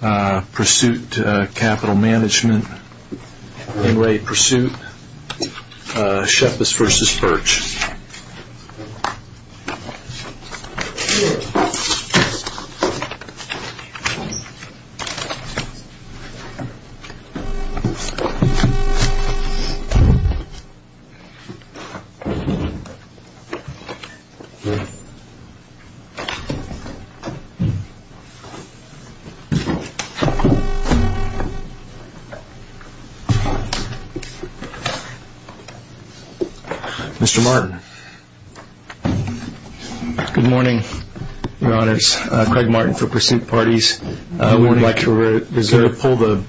Pursuit Capital Management, In Re Pursuit, Sheppis v. Birch. Mr. Martin. Good morning, your honors. Craig Martin for Pursuit Parties. I would like to reserve four minutes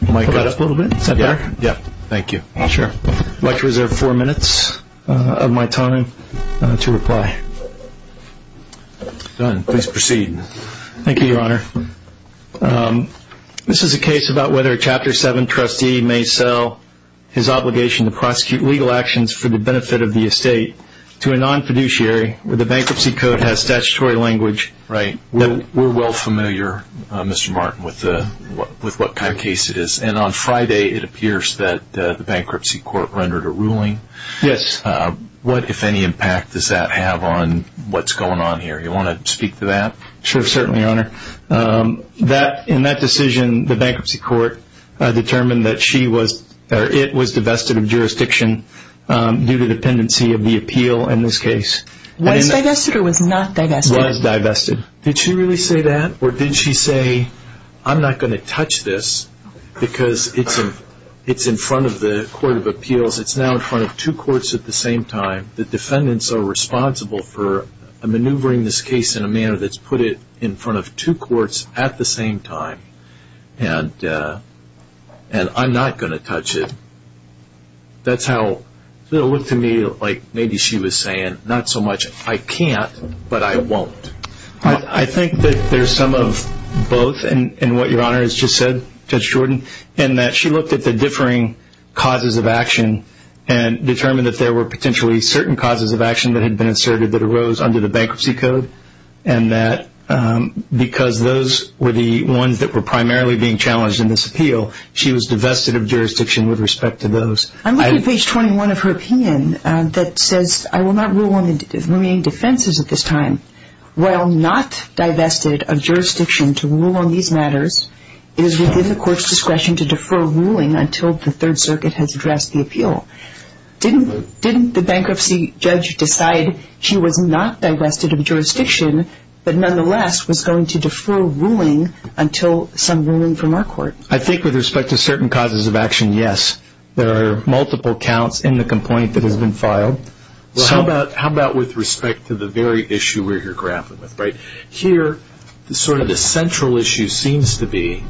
of my time to reply. Done. Please proceed. Thank you, your honor. This is a case about whether a Chapter 7 trustee may sell his obligation to prosecute legal actions for the benefit of the estate to a non-fiduciary where the bankruptcy code has statutory language. Right. We're well familiar, Mr. Martin, with what kind of case it is. And on Friday, it appears that the bankruptcy court rendered a ruling. Yes. What, if any, impact does that have on what's going on Sure, certainly, your honor. In that decision, the bankruptcy court determined that it was divested of jurisdiction due to dependency of the appeal in this case. Was divested or was not divested? Was divested. Did she really say that? Or did she say, I'm not going to touch this because it's in front of the court of appeals. It's now in front of two courts at the same time. The defendants are responsible for maneuvering this case in a manner that's put it in front of two courts at the same time. And I'm not going to touch it. That's how it looked to me like maybe she was saying, not so much I can't, but I won't. I think that there's some of both in what your honor has just said, Judge Jordan, in that she looked at the differing causes of action and determined that there were potentially certain causes of action that had been inserted that arose under the bankruptcy code. And that because those were the ones that were primarily being challenged in this appeal, she was divested of jurisdiction with respect to those. I'm looking at page 21 of her opinion that says, I will not rule on the remaining defenses at this time. While not divested of jurisdiction to rule on these matters, it is within the court's discretion that the bankruptcy judge decide she was not divested of jurisdiction, but nonetheless was going to defer ruling until some ruling from our court. I think with respect to certain causes of action, yes. There are multiple counts in the complaint that has been filed. How about with respect to the very issue we're here grappling with? Here, sort of the central issue seems to be,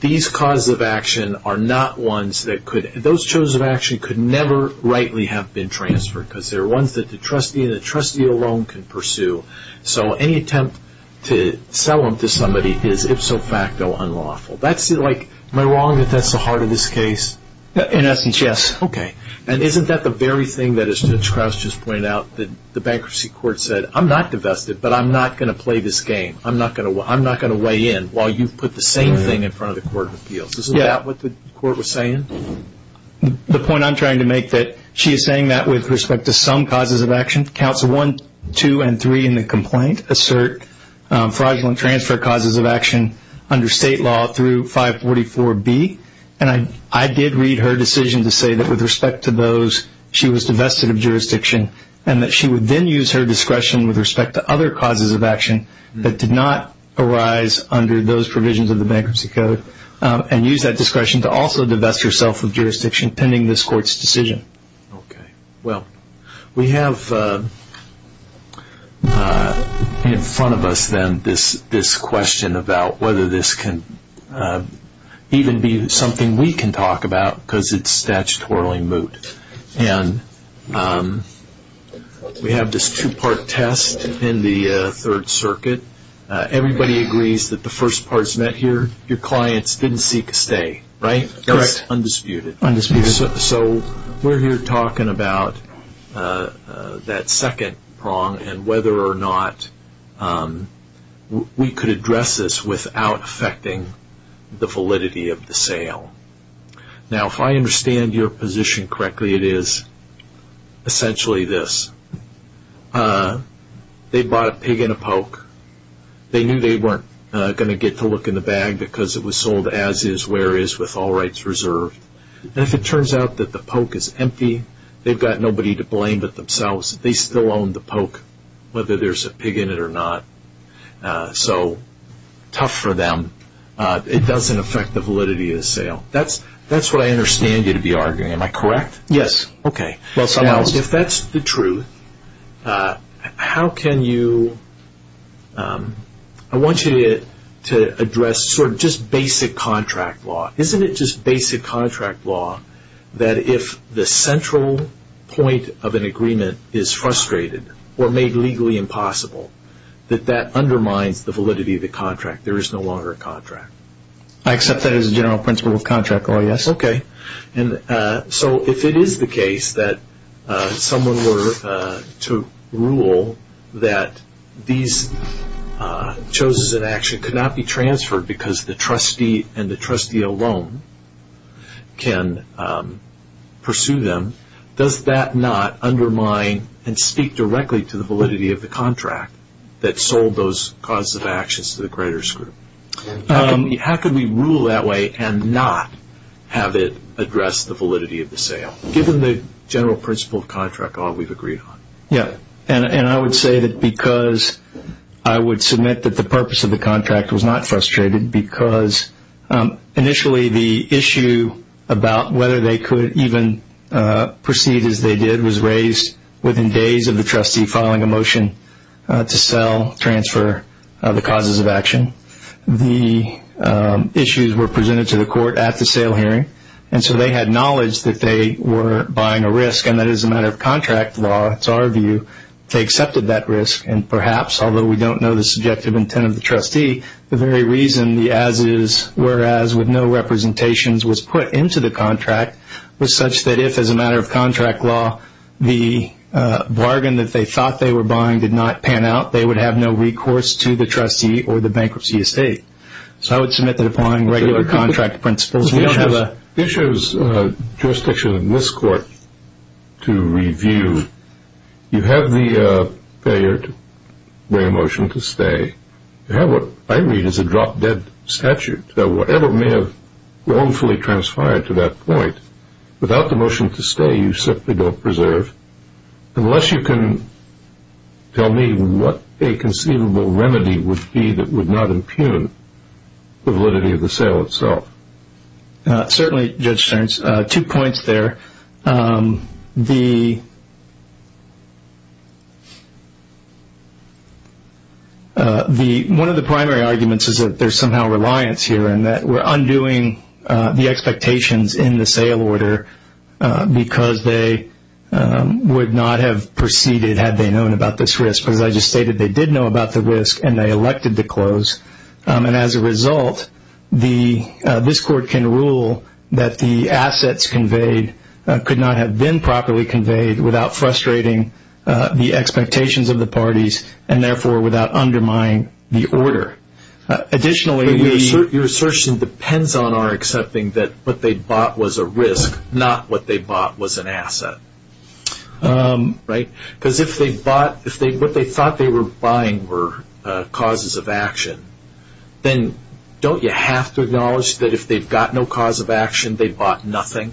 these causes of action are not ones that could, those causes of action could never rightly have been transferred because they're ones that the trustee and the trustee alone can pursue. So any attempt to sell them to somebody is ipso facto unlawful. That's like, am I wrong that that's the heart of this case? In essence, yes. Okay. And isn't that the very thing that, as Judge Krauss just pointed out, that the bankruptcy court said, I'm not divested, but I'm not going to play this game. I'm not going to weigh in while you've put the same thing in front of the court of appeals. Isn't that what the court was saying? The point I'm trying to make that she is saying that with respect to some causes of action, Council 1, 2, and 3 in the complaint assert fraudulent transfer causes of action under state law through 544B. And I did read her decision to say that with respect to those, she was divested of jurisdiction, and that she would then use her discretion with respect to other causes of action that did not arise under those provisions of the bankruptcy code, and use that discretion to also divest herself of jurisdiction pending this court's decision. Okay. Well, we have in front of us then this question about whether this can even be something we can talk about because it's statutorily moot. And we have this two-part test in the Third Circuit. Everybody agrees that the first part is met here. Your clients didn't seek a stay, right? Correct. Undisputed. Undisputed. So we're here talking about that second prong and whether or not we could address this without affecting the validity of the sale. Now, if I understand your position correctly, it is essentially this. They bought a pig in a poke. They knew they weren't going to get to look in the bag because it was sold as is, where is, with all rights reserved. And if it turns out that the poke is empty, they've got nobody to blame but themselves. They still own the poke, whether there's a pig in it or not. So tough for them. It doesn't affect the validity of the sale. That's what I understand you to be arguing. Am I correct? Yes. Okay. Now, if that's the truth, how can you – I want you to address sort of just basic contract law. Isn't it just basic contract law that if the central point of an agreement is frustrated or made legally impossible, that that undermines the validity of the contract. There is no longer a contract. I accept that as a general principle of contract law, yes. Okay. So if it is the case that someone were to rule that these choices in action could not be transferred because the trustee and the trustee alone can pursue them, does that not undermine and speak directly to the validity of the contract that sold those causes of actions to the creditors group? How can we rule that way and not have it address the validity of the sale, given the general principle of contract law we've agreed on? Yes. And I would say that because I would submit that the purpose of the contract was not frustrated because initially the issue about whether they could even proceed as they did was raised within days of the trustee filing a motion to sell, transfer the causes of action. The issues were presented to the court at the sale hearing, and so they had knowledge that they were buying a risk, and that as a matter of contract law, it's our view, they accepted that risk. And perhaps, although we don't know the subjective intent of the trustee, the very reason the as-is, whereas, with no representations was put into the contract was such that if, as a matter of contract law, the bargain that they thought they were buying did not pan out, they would have no recourse to the trustee or the bankruptcy estate. So I would submit that upon regular contract principles, we don't have a... The issue is jurisdiction in this court to review. You have the failure to bring a motion to stay. You have what I read as a drop-dead statute. So whatever may have wrongfully transferred to that point, without the motion to stay, you simply don't preserve. Unless you can tell me what a conceivable remedy would be that would not impugn the validity of the sale itself. Certainly, Judge Stearns, two points there. One of the primary arguments is that there's somehow reliance here, and that we're undoing the expectations in the sale order because they would not have proceeded had they known about this risk. As I just stated, they did know about the risk, and they elected to close. And as a result, this court can rule that the assets conveyed could not have been properly conveyed without frustrating the expectations of the parties, and therefore, without undermining the order. Additionally... Your assertion depends on our accepting that what they bought was a risk, not what they bought was an asset. Right? Because if what they thought they were buying were causes of action, then don't you have to acknowledge that if they've got no cause of action, they bought nothing?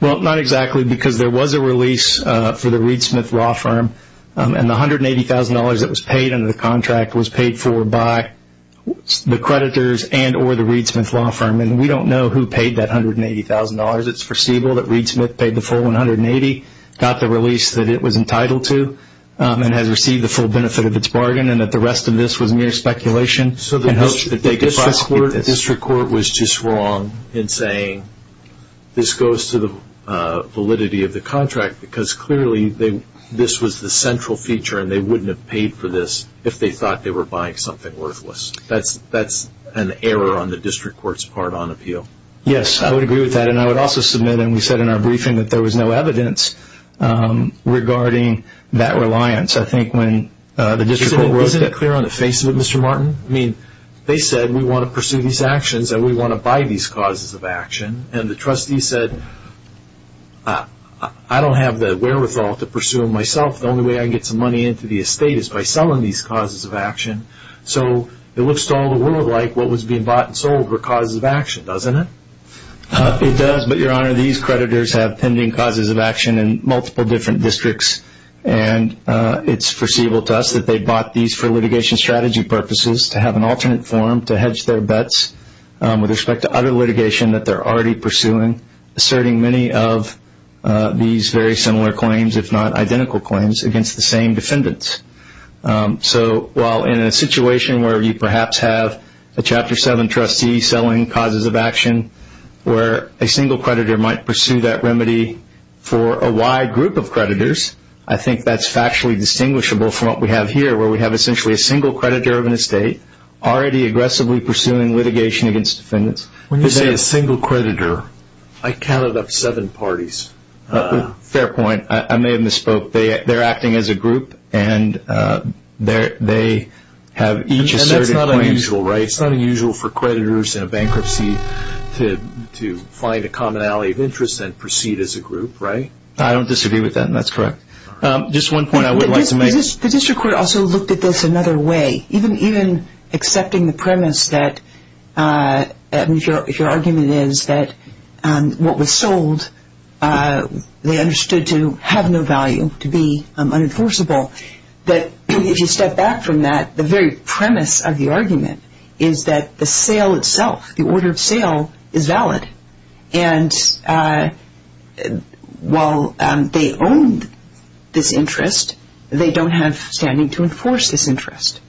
Well, not exactly, because there was a release for the Reed Smith Raw Firm, and the $180,000 that was paid under the contract was paid for by the creditors and or the Reed Smith Law Firm. And we don't know who paid that $180,000. It's foreseeable that Reed Smith paid the full $180,000, got the release that it was entitled to, and has received the full benefit of its bargain, and that the rest of this was mere speculation. So the district court was just wrong in saying this goes to the validity of the contract, because clearly this was the central feature, and they wouldn't have paid for this if they thought they were buying something worthless. That's an error on the district court's part on appeal. Yes, I would agree with that, and I would also submit, and we said in our briefing, that there was no evidence regarding that reliance. I think when the district court wrote that... Isn't it clear on the face of it, Mr. Martin? I mean, they said, we want to pursue these actions, and we want to buy these causes of action. And the trustee said, I don't have the wherewithal to pursue them myself. The only way I can get some money into the estate is by selling these causes of action. So it looks to all the world like what was being bought and sold were causes of action, doesn't it? It does, but, Your Honor, these creditors have pending causes of action in multiple different districts, and it's foreseeable to us that they bought these for litigation strategy purposes, to have an alternate form to hedge their bets with respect to other litigation that they're already pursuing, asserting many of these very similar claims, if not identical claims, against the same defendants. So while in a situation where you perhaps have a Chapter 7 trustee selling causes of action, where a single creditor might pursue that remedy for a wide group of creditors, I think that's factually distinguishable from what we have here, where we have essentially a single creditor of an estate, already aggressively pursuing litigation against defendants. When you say a single creditor, I counted up seven parties. Fair point. I may have misspoke. They're acting as a group, and they have each asserted claims. And that's not unusual, right? It's not unusual for creditors in a bankruptcy to find a common alley of interest and proceed as a group, right? I don't disagree with that, and that's correct. Just one point I would like to make. The district court also looked at this another way. Even accepting the premise that if your argument is that what was sold they understood to have no value, to be unenforceable, that if you step back from that, the very premise of the argument is that the sale itself, the order of sale, is valid. And while they own this interest, they don't have standing to enforce this interest.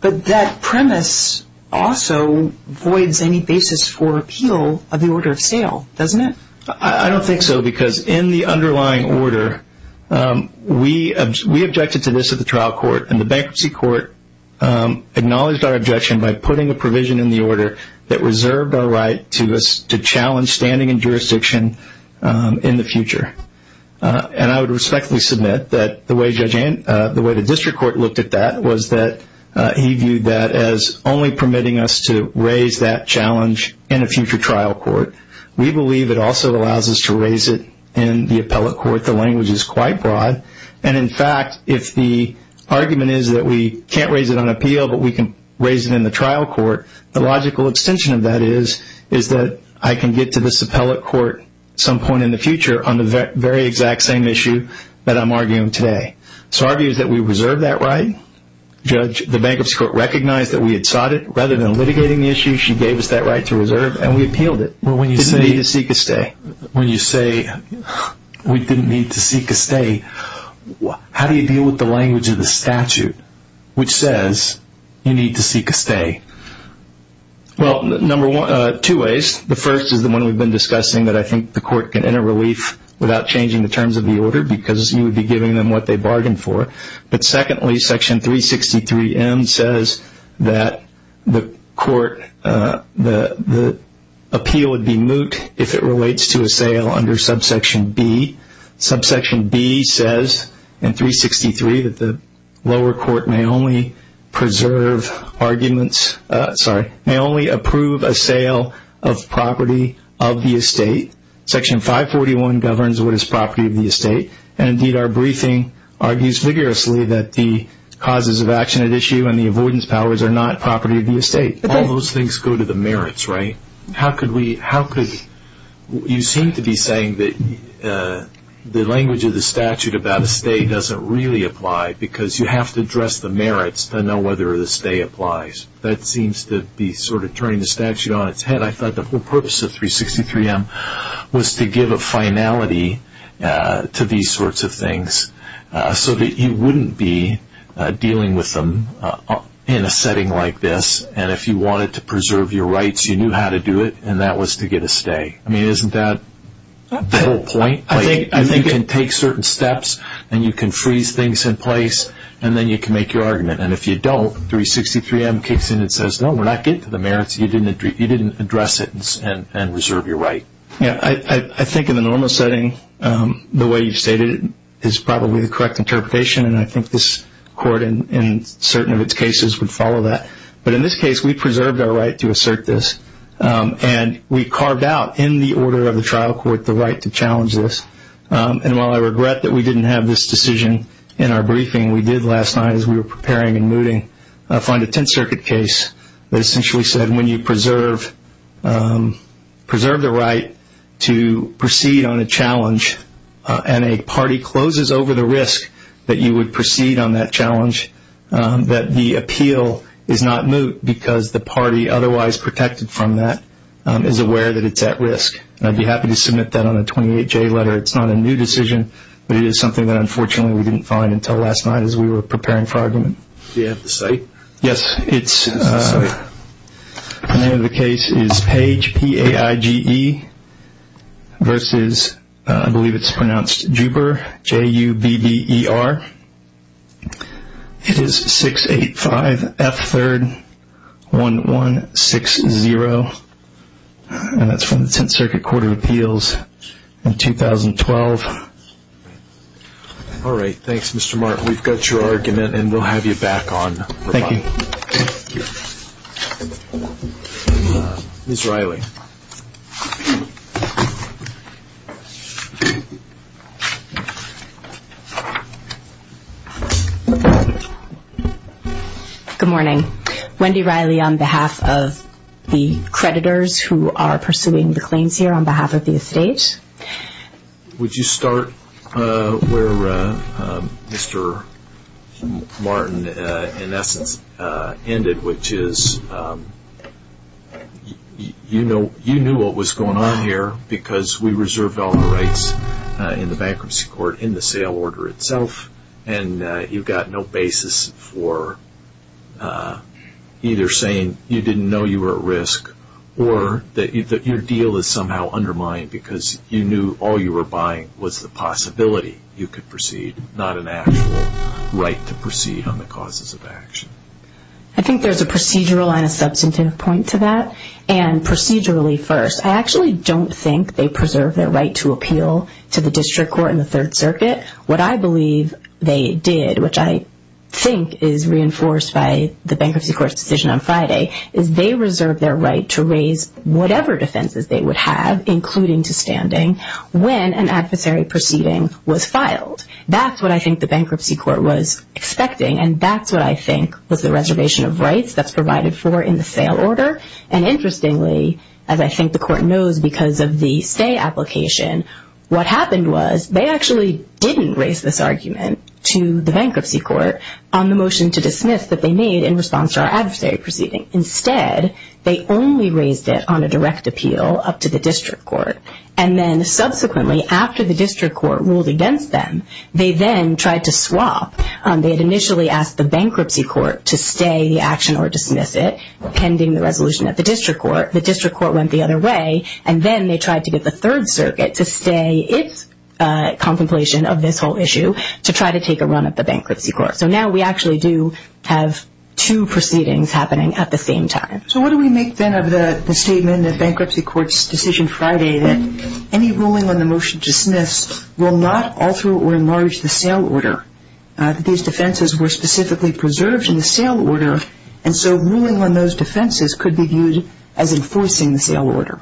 But that premise also voids any basis for appeal of the order of sale, doesn't it? I don't think so, because in the underlying order, we objected to this at the trial court, and the bankruptcy court acknowledged our objection by putting a provision in the order that reserved our right to challenge standing and jurisdiction in the future. And I would respectfully submit that the way the district court looked at that was that he viewed that as only permitting us to raise that challenge in a future trial court. We believe it also allows us to raise it in the appellate court. The language is quite broad. And, in fact, if the argument is that we can't raise it on appeal but we can raise it in the trial court, the logical extension of that is that I can get to this appellate court some point in the future on the very exact same issue that I'm arguing today. So our view is that we reserve that right. The bankruptcy court recognized that we had sought it. Rather than litigating the issue, she gave us that right to reserve, and we appealed it. We didn't need to seek a stay. When you say we didn't need to seek a stay, how do you deal with the language of the statute which says you need to seek a stay? Well, two ways. The first is the one we've been discussing that I think the court can enter relief without changing the terms of the order because you would be giving them what they bargained for. But, secondly, Section 363M says that the appeal would be moot if it relates to a sale under subsection B. Subsection B says in 363 that the lower court may only approve a sale of property of the estate. Section 541 governs what is property of the estate. Indeed, our briefing argues vigorously that the causes of action at issue and the avoidance powers are not property of the estate. All those things go to the merits, right? You seem to be saying that the language of the statute about a stay doesn't really apply because you have to address the merits to know whether the stay applies. That seems to be sort of turning the statute on its head. I thought the whole purpose of 363M was to give a finality to these sorts of things so that you wouldn't be dealing with them in a setting like this, and if you wanted to preserve your rights, you knew how to do it, and that was to get a stay. I mean, isn't that the whole point? You can take certain steps, and you can freeze things in place, and then you can make your argument. And if you don't, 363M kicks in and says, no, we're not getting to the merits. You didn't address it and reserve your right. I think in the normal setting, the way you stated it is probably the correct interpretation, and I think this court in certain of its cases would follow that. But in this case, we preserved our right to assert this, and we carved out in the order of the trial court the right to challenge this. And while I regret that we didn't have this decision in our briefing, we did last night as we were preparing and mooting find a Tenth Circuit case that essentially said when you preserve the right to proceed on a challenge and a party closes over the risk that you would proceed on that challenge, that the appeal is not moot because the party otherwise protected from that is aware that it's at risk. And I'd be happy to submit that on a 28J letter. It's not a new decision, but it is something that unfortunately we didn't find until last night as we were preparing for argument. Do you have the site? Yes. The name of the case is Page, P-A-I-G-E, versus, I believe it's pronounced Juber, J-U-B-E-R. It is 685-F3-1160, and that's from the Tenth Circuit Court of Appeals in 2012. All right. Thanks, Mr. Martin. We've got your argument, and we'll have you back on for a while. Thank you. Thank you. Ms. Riley. Good morning. Wendy Riley on behalf of the creditors who are pursuing the claims here on behalf of the estate. Would you start where Mr. Martin, in essence, ended, which is you knew what was going on here because we reserve all the rights in the bankruptcy court in the sale order itself, and you've got no basis for either saying you didn't know you were at risk or that your deal is somehow undermined because you knew all you were buying was the possibility you could proceed, not an actual right to proceed on the causes of action. I think there's a procedural and a substantive point to that. And procedurally first, I actually don't think they preserve their right to appeal to the district court in the Third Circuit. What I believe they did, which I think is reinforced by the bankruptcy court's decision on Friday, is they reserved their right to raise whatever defenses they would have, including to standing, when an adversary proceeding was filed. That's what I think the bankruptcy court was expecting, and that's what I think was the reservation of rights that's provided for in the sale order. And interestingly, as I think the court knows because of the stay application, what happened was they actually didn't raise this argument to the bankruptcy court on the motion to dismiss that they made in response to our adversary proceeding. Instead, they only raised it on a direct appeal up to the district court. And then subsequently, after the district court ruled against them, they then tried to swap. They had initially asked the bankruptcy court to stay the action or dismiss it, pending the resolution at the district court. The district court went the other way, and then they tried to get the Third Circuit to stay its contemplation of this whole issue to try to take a run at the bankruptcy court. So now we actually do have two proceedings happening at the same time. So what do we make, then, of the statement in the bankruptcy court's decision Friday that any ruling on the motion to dismiss will not alter or enlarge the sale order, that these defenses were specifically preserved in the sale order, and so ruling on those defenses could be viewed as enforcing the sale order?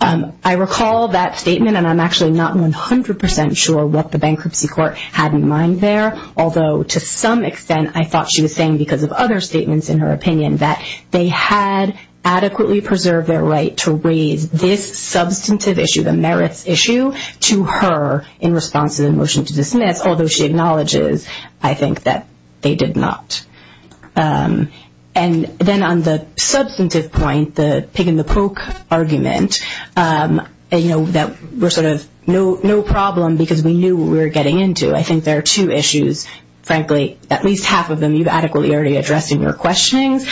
I recall that statement, and I'm actually not 100% sure what the bankruptcy court had in mind there, although to some extent I thought she was saying because of other statements in her opinion that they had adequately preserved their right to raise this substantive issue, the merits issue, to her in response to the motion to dismiss, although she acknowledges, I think, that they did not. And then on the substantive point, the pig in the poke argument, you know, that we're sort of no problem because we knew what we were getting into, I think there are two issues, frankly, at least half of them you've adequately already addressed in your questionings.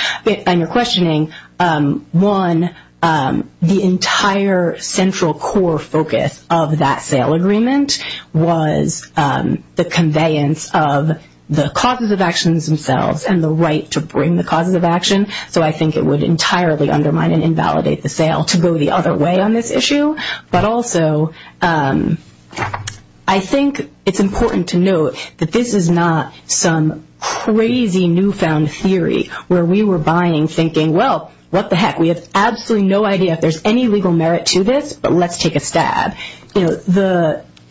On your questioning, one, the entire central core focus of that sale agreement was the conveyance of the causes of actions themselves and the right to bring the causes of action, so I think it would entirely undermine and invalidate the sale to go the other way on this issue. But also I think it's important to note that this is not some crazy newfound theory where we were buying thinking, well, what the heck, we have absolutely no idea if there's any legal merit to this, but let's take a stab. You know,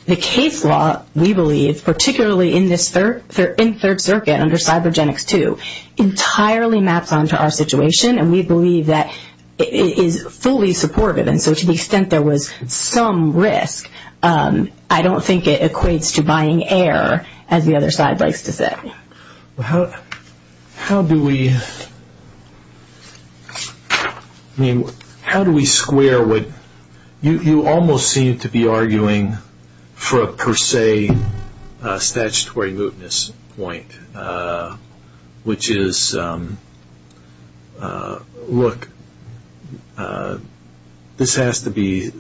the case law, we believe, particularly in this third circuit under CyberGenics II, entirely maps onto our situation, and we believe that it is fully supportive, and so to the extent there was some risk, I don't think it equates to buying air, as the other side likes to say. How do we square what you almost seem to be arguing for a per se statutory mootness point, which is, look, this has to be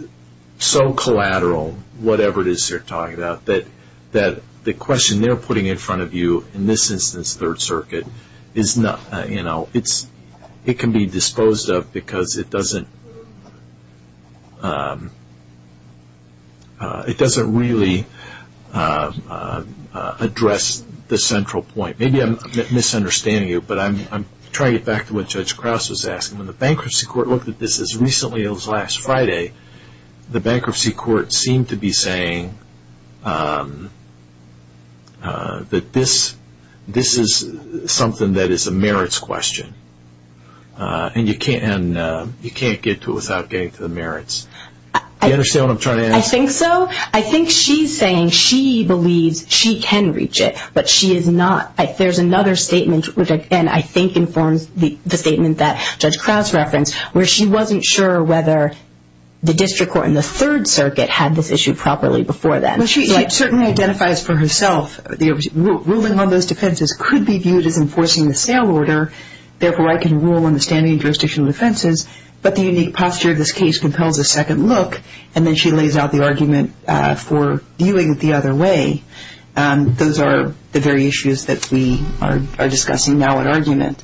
so collateral, whatever it is they're talking about, that the question they're putting in front of you in this instance, third circuit, it can be disposed of because it doesn't really address the central point. Maybe I'm misunderstanding you, but I'm trying to get back to what Judge Krause was asking. When the bankruptcy court looked at this as recently as last Friday, the bankruptcy court seemed to be saying that this is something that is a merits question, and you can't get to it without getting to the merits. Do you understand what I'm trying to ask? I think so. I think she's saying she believes she can reach it, but she is not. There's another statement, which I think informs the statement that Judge Krause referenced, where she wasn't sure whether the district court in the third circuit had this issue properly before then. She certainly identifies for herself, ruling on those defenses could be viewed as enforcing the sale order, therefore I can rule on the standing and jurisdictional defenses, but the unique posture of this case compels a second look, and then she lays out the argument for viewing it the other way. Those are the very issues that we are discussing now at argument.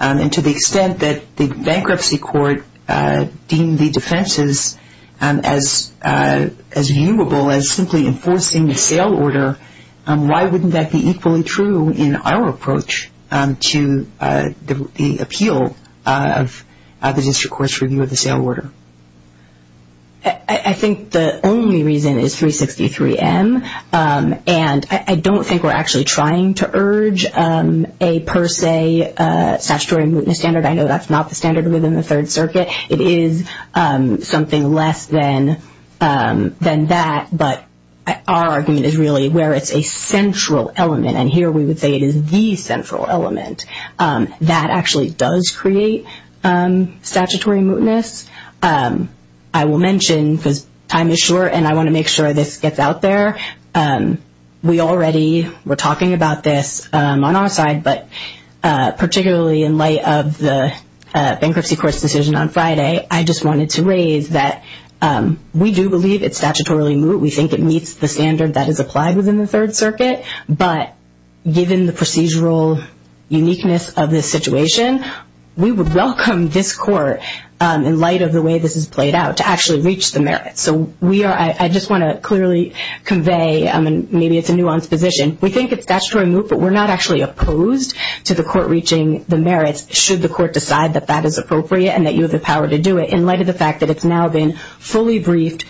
To the extent that the bankruptcy court deemed the defenses as viewable as simply enforcing the sale order, why wouldn't that be equally true in our approach to the appeal of the district court's review of the sale order? I think the only reason is 363M, and I don't think we're actually trying to urge a per se statutory mootness standard. I know that's not the standard within the third circuit. It is something less than that, but our argument is really where it's a central element, and here we would say it is the central element. That actually does create statutory mootness. I will mention, because time is short and I want to make sure this gets out there, we already were talking about this on our side, but particularly in light of the bankruptcy court's decision on Friday, I just wanted to raise that we do believe it's statutorily moot. We think it meets the standard that is applied within the third circuit, but given the procedural uniqueness of this situation, we would welcome this court, in light of the way this is played out, to actually reach the merits. So I just want to clearly convey, and maybe it's a nuanced position, we think it's statutorily moot, but we're not actually opposed to the court reaching the merits, should the court decide that that is appropriate and that you have the power to do it, in light of the fact that it's now been fully briefed,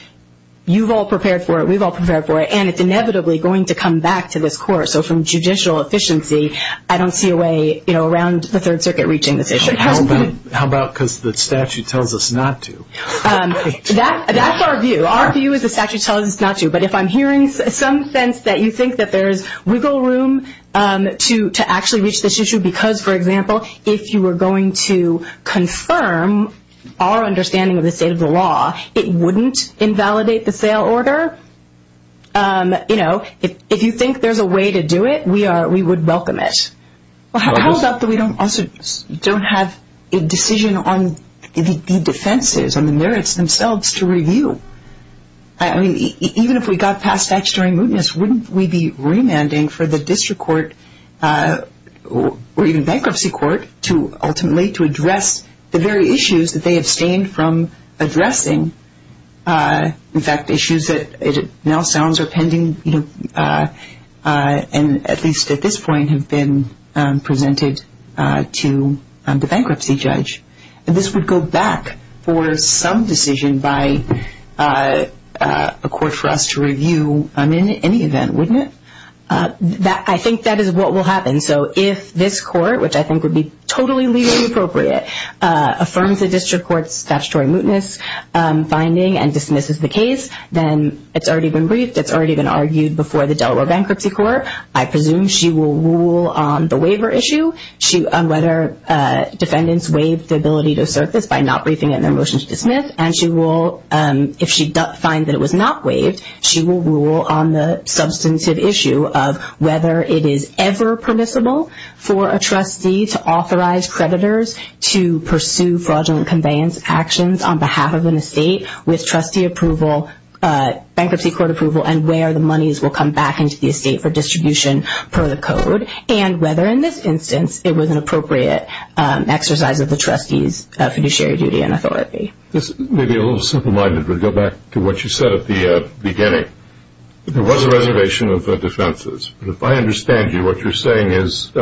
you've all prepared for it, we've all prepared for it, and it's inevitably going to come back to this court. So from judicial efficiency, I don't see a way around the third circuit reaching this issue. How about because the statute tells us not to? That's our view. Our view is the statute tells us not to. But if I'm hearing some sense that you think that there's wiggle room to actually reach this issue, because, for example, if you were going to confirm our understanding of the state of the law, it wouldn't invalidate the sale order. You know, if you think there's a way to do it, we would welcome it. How about that we don't have a decision on the defenses and the merits themselves to review? I mean, even if we got past statutory mootness, wouldn't we be remanding for the district court, or even bankruptcy court, to ultimately to address the very issues that they abstained from addressing? In fact, issues that it now sounds are pending, you know, and at least at this point have been presented to the bankruptcy judge. And this would go back for some decision by a court for us to review in any event, wouldn't it? I think that is what will happen. So if this court, which I think would be totally legally appropriate, affirms the district court's statutory mootness finding and dismisses the case, then it's already been briefed, it's already been argued before the Delaware Bankruptcy Court. I presume she will rule on the waiver issue, on whether defendants waived the ability to assert this by not briefing it in their motion to dismiss. And she will, if she finds that it was not waived, she will rule on the substantive issue of whether it is ever permissible for a trustee to authorize creditors to pursue fraudulent conveyance actions on behalf of an estate with trustee approval, bankruptcy court approval, and where the monies will come back into the estate for distribution per the code, and whether in this instance it was an appropriate exercise of the trustee's fiduciary duty and authority. This may be a little simple-minded, but go back to what you said at the beginning. There was a reservation of defenses. But if I understand you, what you're saying is,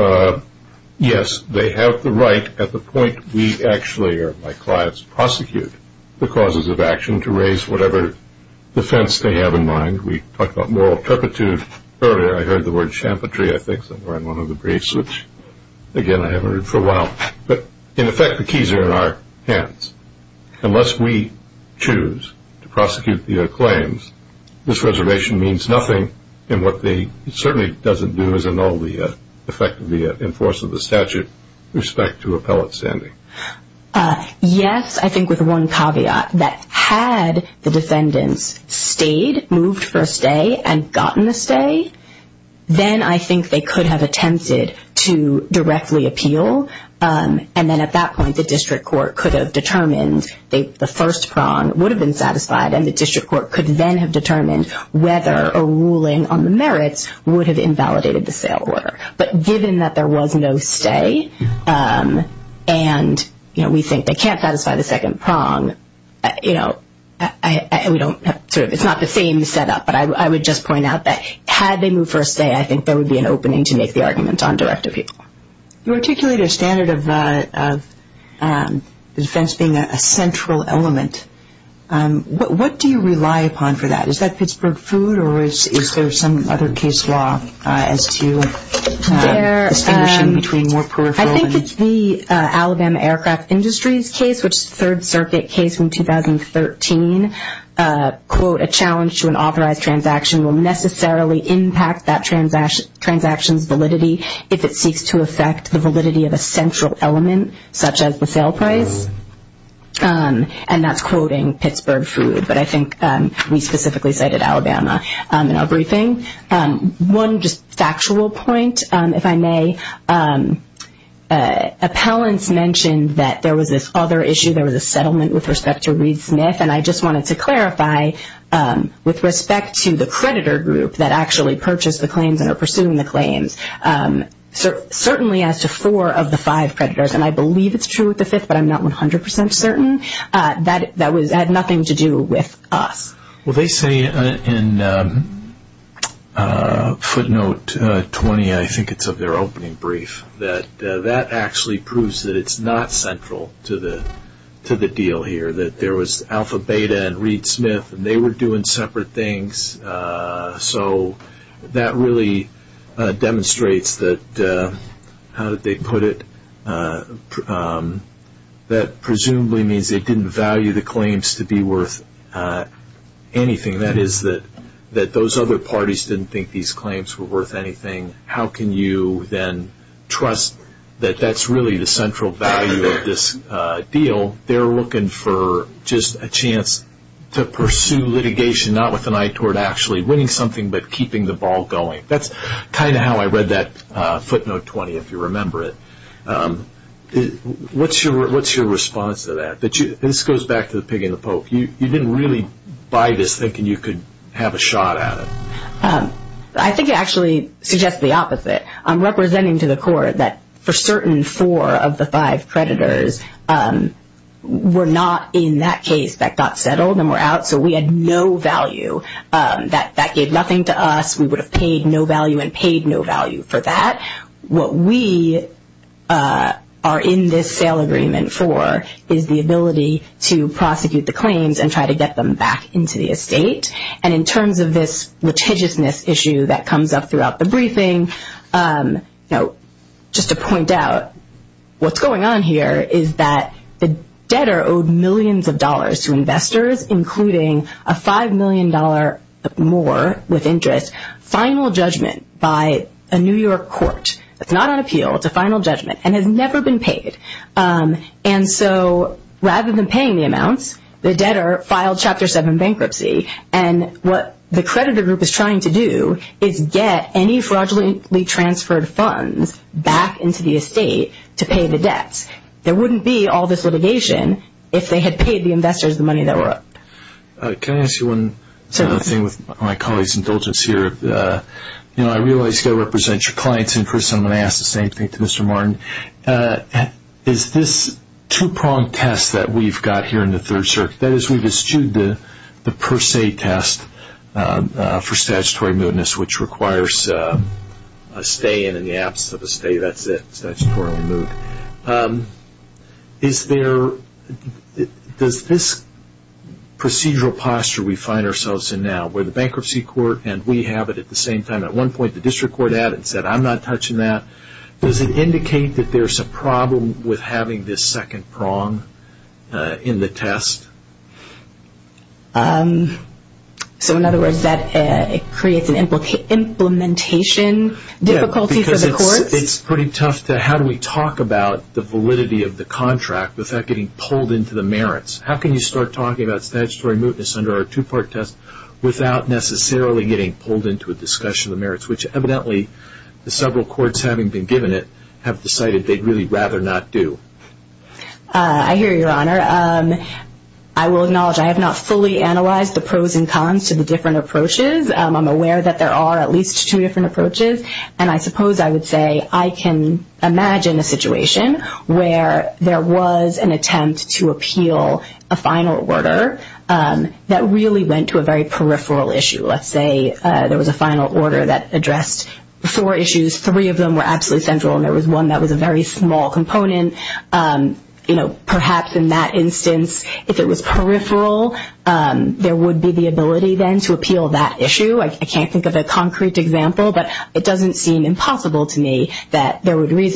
yes, they have the right at the point we actually, or my clients, prosecute the causes of action to raise whatever defense they have in mind. We talked about moral turpitude earlier. I heard the word champerty, I think, somewhere in one of the briefs, which, again, I haven't heard for a while. But, in effect, the keys are in our hands. Unless we choose to prosecute the claims, this reservation means nothing, and what it certainly doesn't do is annul the effect of the enforcement of the statute with respect to appellate standing. Yes, I think with one caveat, that had the defendants stayed, moved for a stay, and gotten a stay, then I think they could have attempted to directly appeal, and then at that point the district court could have determined the first prong would have been satisfied, and the district court could then have determined whether a ruling on the merits would have invalidated the sale order. But given that there was no stay, and we think they can't satisfy the second prong, it's not the same set up, but I would just point out that had they moved for a stay, I think there would be an opening to make the argument on direct appeal. You articulate a standard of defense being a central element. What do you rely upon for that? Is that Pittsburgh food, or is there some other case law as to distinguishing between more peripheral? I think it's the Alabama Aircraft Industries case, which is a Third Circuit case from 2013. Quote, a challenge to an authorized transaction will necessarily impact that transaction's validity if it seeks to affect the validity of a central element, such as the sale price. And that's quoting Pittsburgh food, but I think we specifically cited Alabama in our briefing. One just factual point, if I may. Appellants mentioned that there was this other issue, there was a settlement with respect to Reed-Smith, and I just wanted to clarify, with respect to the creditor group that actually purchased the claims and are pursuing the claims, certainly as to four of the five creditors, and I believe it's true with the fifth, but I'm not 100% certain, that had nothing to do with us. Well, they say in footnote 20, I think it's of their opening brief, that that actually proves that it's not central to the deal here, that there was Alpha Beta and Reed-Smith, and they were doing separate things. So that really demonstrates that, how did they put it, that presumably means they didn't value the claims to be worth anything. That is, that those other parties didn't think these claims were worth anything. How can you then trust that that's really the central value of this deal? They're looking for just a chance to pursue litigation, not with an eye toward actually winning something, but keeping the ball going. That's kind of how I read that footnote 20, if you remember it. What's your response to that? This goes back to the pig and the poke. You didn't really buy this thinking you could have a shot at it. I think it actually suggests the opposite. I'm representing to the court that for certain four of the five creditors were not in that case, that got settled and were out, so we had no value. That gave nothing to us. We would have paid no value and paid no value for that. What we are in this sale agreement for is the ability to prosecute the claims and try to get them back into the estate. And in terms of this litigiousness issue that comes up throughout the briefing, just to point out, what's going on here is that the debtor owed millions of dollars to investors, including a $5 million more with interest, final judgment by a New York court. It's not on appeal. It's a final judgment and has never been paid. And so rather than paying the amounts, the debtor filed Chapter 7 bankruptcy. And what the creditor group is trying to do is get any fraudulently transferred funds back into the estate to pay the debts. There wouldn't be all this litigation if they had paid the investors the money that were owed. Can I ask you one thing with my colleague's indulgence here? I realize you've got to represent your client's interests, and I'm going to ask the same thing to Mr. Martin. Is this two-pronged test that we've got here in the Third Circuit, that is we've eschewed the per se test for statutory mootness, which requires a stay, and in the absence of a stay, that's it, statutory moot. Does this procedural posture we find ourselves in now, where the bankruptcy court and we have it at the same time, at one point the district court added and said, I'm not touching that, does it indicate that there's a problem with having this second prong in the test? So in other words, that creates an implementation difficulty for the courts? Yes, because it's pretty tough to how do we talk about the validity of the contract without getting pulled into the merits. How can you start talking about statutory mootness under our two-part test without necessarily getting pulled into a discussion of the merits, which evidently the several courts having been given it have decided they'd really rather not do. I hear you, Your Honor. I will acknowledge I have not fully analyzed the pros and cons to the different approaches. I'm aware that there are at least two different approaches, and I suppose I would say I can imagine a situation where there was an attempt to appeal a final order that really went to a very peripheral issue. Let's say there was a final order that addressed four issues, three of them were absolutely central and there was one that was a very small component. Perhaps in that instance, if it was peripheral, there would be the ability then to appeal that issue. I can't think of a concrete example, but it doesn't seem impossible to me that there would be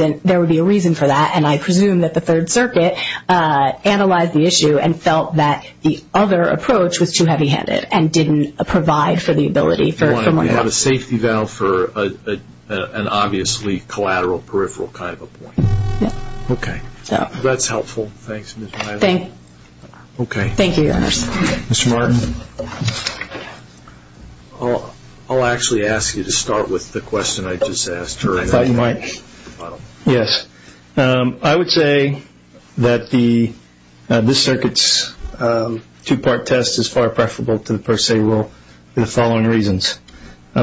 a reason for that, and I presume that the Third Circuit analyzed the issue and felt that the other approach was too heavy-handed and didn't provide for the ability for more evidence. You have a safety valve for an obviously collateral peripheral kind of a point. Yes. Okay. That's helpful. Thanks, Ms. Milo. Thank you, Your Honor. Mr. Martin? I'll actually ask you to start with the question I just asked her. I thought you might. Yes. I would say that this Circuit's two-part test is far preferable to the per se rule for the following reasons.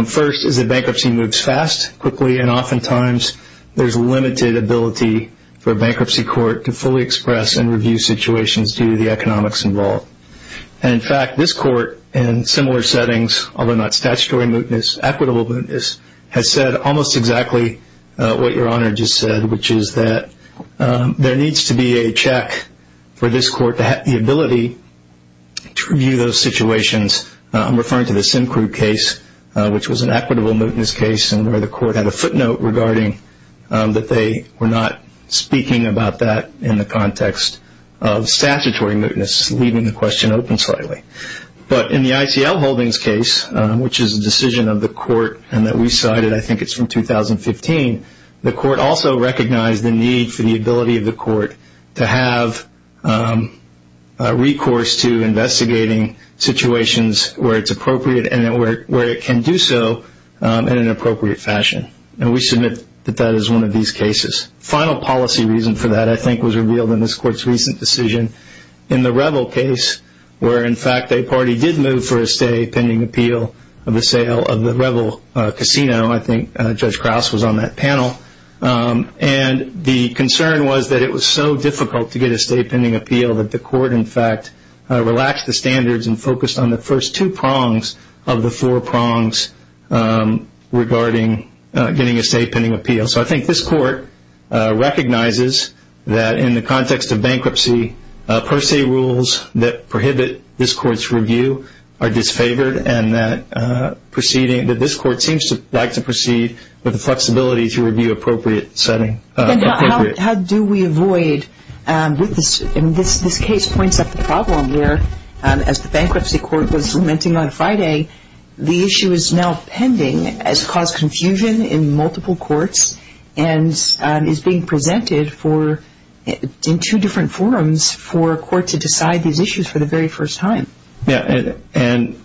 First is that bankruptcy moves fast, quickly, and oftentimes there's limited ability for a bankruptcy court to fully express and review situations due to the economics involved. In fact, this court, in similar settings, although not statutory mootness, equitable mootness, has said almost exactly what Your Honor just said, which is that there needs to be a check for this court to have the ability to review those situations. I'm referring to the Syncrude case, which was an equitable mootness case, and where the court had a footnote regarding that they were not speaking about that in the context of statutory mootness, leaving the question open slightly. But in the ICL Holdings case, which is a decision of the court and that we cited, I think it's from 2015, the court also recognized the need for the ability of the court to have a recourse to investigating situations where it's appropriate and where it can do so in an appropriate fashion. And we submit that that is one of these cases. The final policy reason for that, I think, was revealed in this court's recent decision. In the Revel case, where, in fact, a party did move for a stay pending appeal of the sale of the Revel casino, I think Judge Krause was on that panel. And the concern was that it was so difficult to get a stay pending appeal that the court, in fact, relaxed the standards and focused on the first two prongs of the four prongs regarding getting a stay pending appeal. So I think this court recognizes that in the context of bankruptcy, per se rules that prohibit this court's review are disfavored, and that this court seems to like to proceed with the flexibility to review appropriate settings. How do we avoid, and this case points up the problem where, as the bankruptcy court was lamenting on Friday, the issue is now pending, has caused confusion in multiple courts, and is being presented in two different forums for a court to decide these issues for the very first time? Yeah. And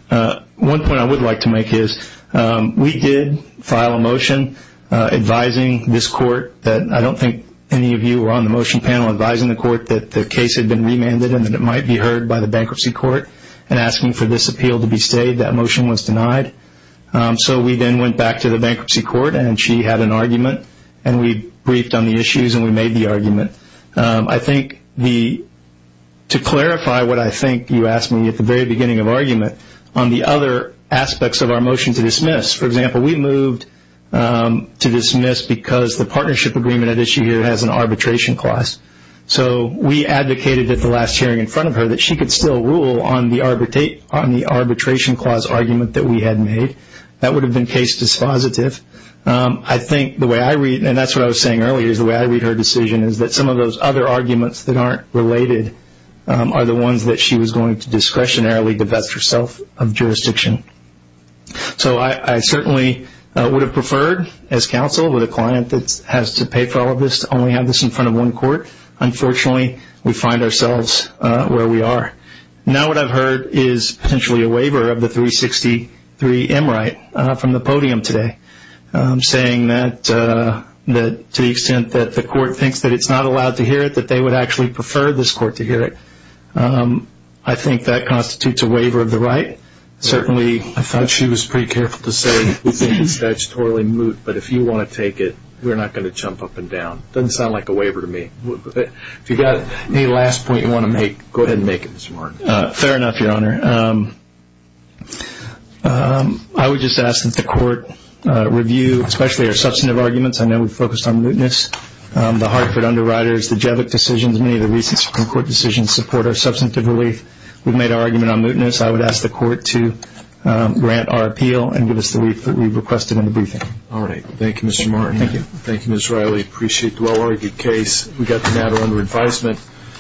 one point I would like to make is we did file a motion advising this court that I don't think any of you were on the motion panel advising the court that the case had been remanded and that it might be heard by the bankruptcy court, and asking for this appeal to be stayed. That motion was denied. So we then went back to the bankruptcy court, and she had an argument, and we briefed on the issues, and we made the argument. I think to clarify what I think you asked me at the very beginning of argument on the other aspects of our motion to dismiss, for example, we moved to dismiss because the partnership agreement at issue here has an arbitration clause. So we advocated at the last hearing in front of her that she could still rule on the arbitration clause argument that we had made. That would have been case dispositive. I think the way I read, and that's what I was saying earlier is the way I read her decision, is that some of those other arguments that aren't related are the ones that she was going to discretionarily divest herself of jurisdiction. So I certainly would have preferred, as counsel with a client that has to pay for all of this, to only have this in front of one court. Unfortunately, we find ourselves where we are. Now what I've heard is potentially a waiver of the 363M right from the podium today, saying that to the extent that the court thinks that it's not allowed to hear it, that they would actually prefer this court to hear it. I think that constitutes a waiver of the right. Certainly, I thought she was pretty careful to say that it's statutorily moot, but if you want to take it, we're not going to jump up and down. It doesn't sound like a waiver to me. If you've got any last point you want to make, go ahead and make it this morning. Fair enough, Your Honor. I would just ask that the court review, especially our substantive arguments. I know we focused on mootness. The Hartford underwriters, the Jevick decisions, many of the recent Supreme Court decisions support our substantive relief. We've made our argument on mootness. I would ask the court to grant our appeal and give us the relief that we've requested in the briefing. All right. Thank you, Mr. Martin. Thank you. Thank you, Ms. Riley. Appreciate the well-argued case. We've got the matter under advisement.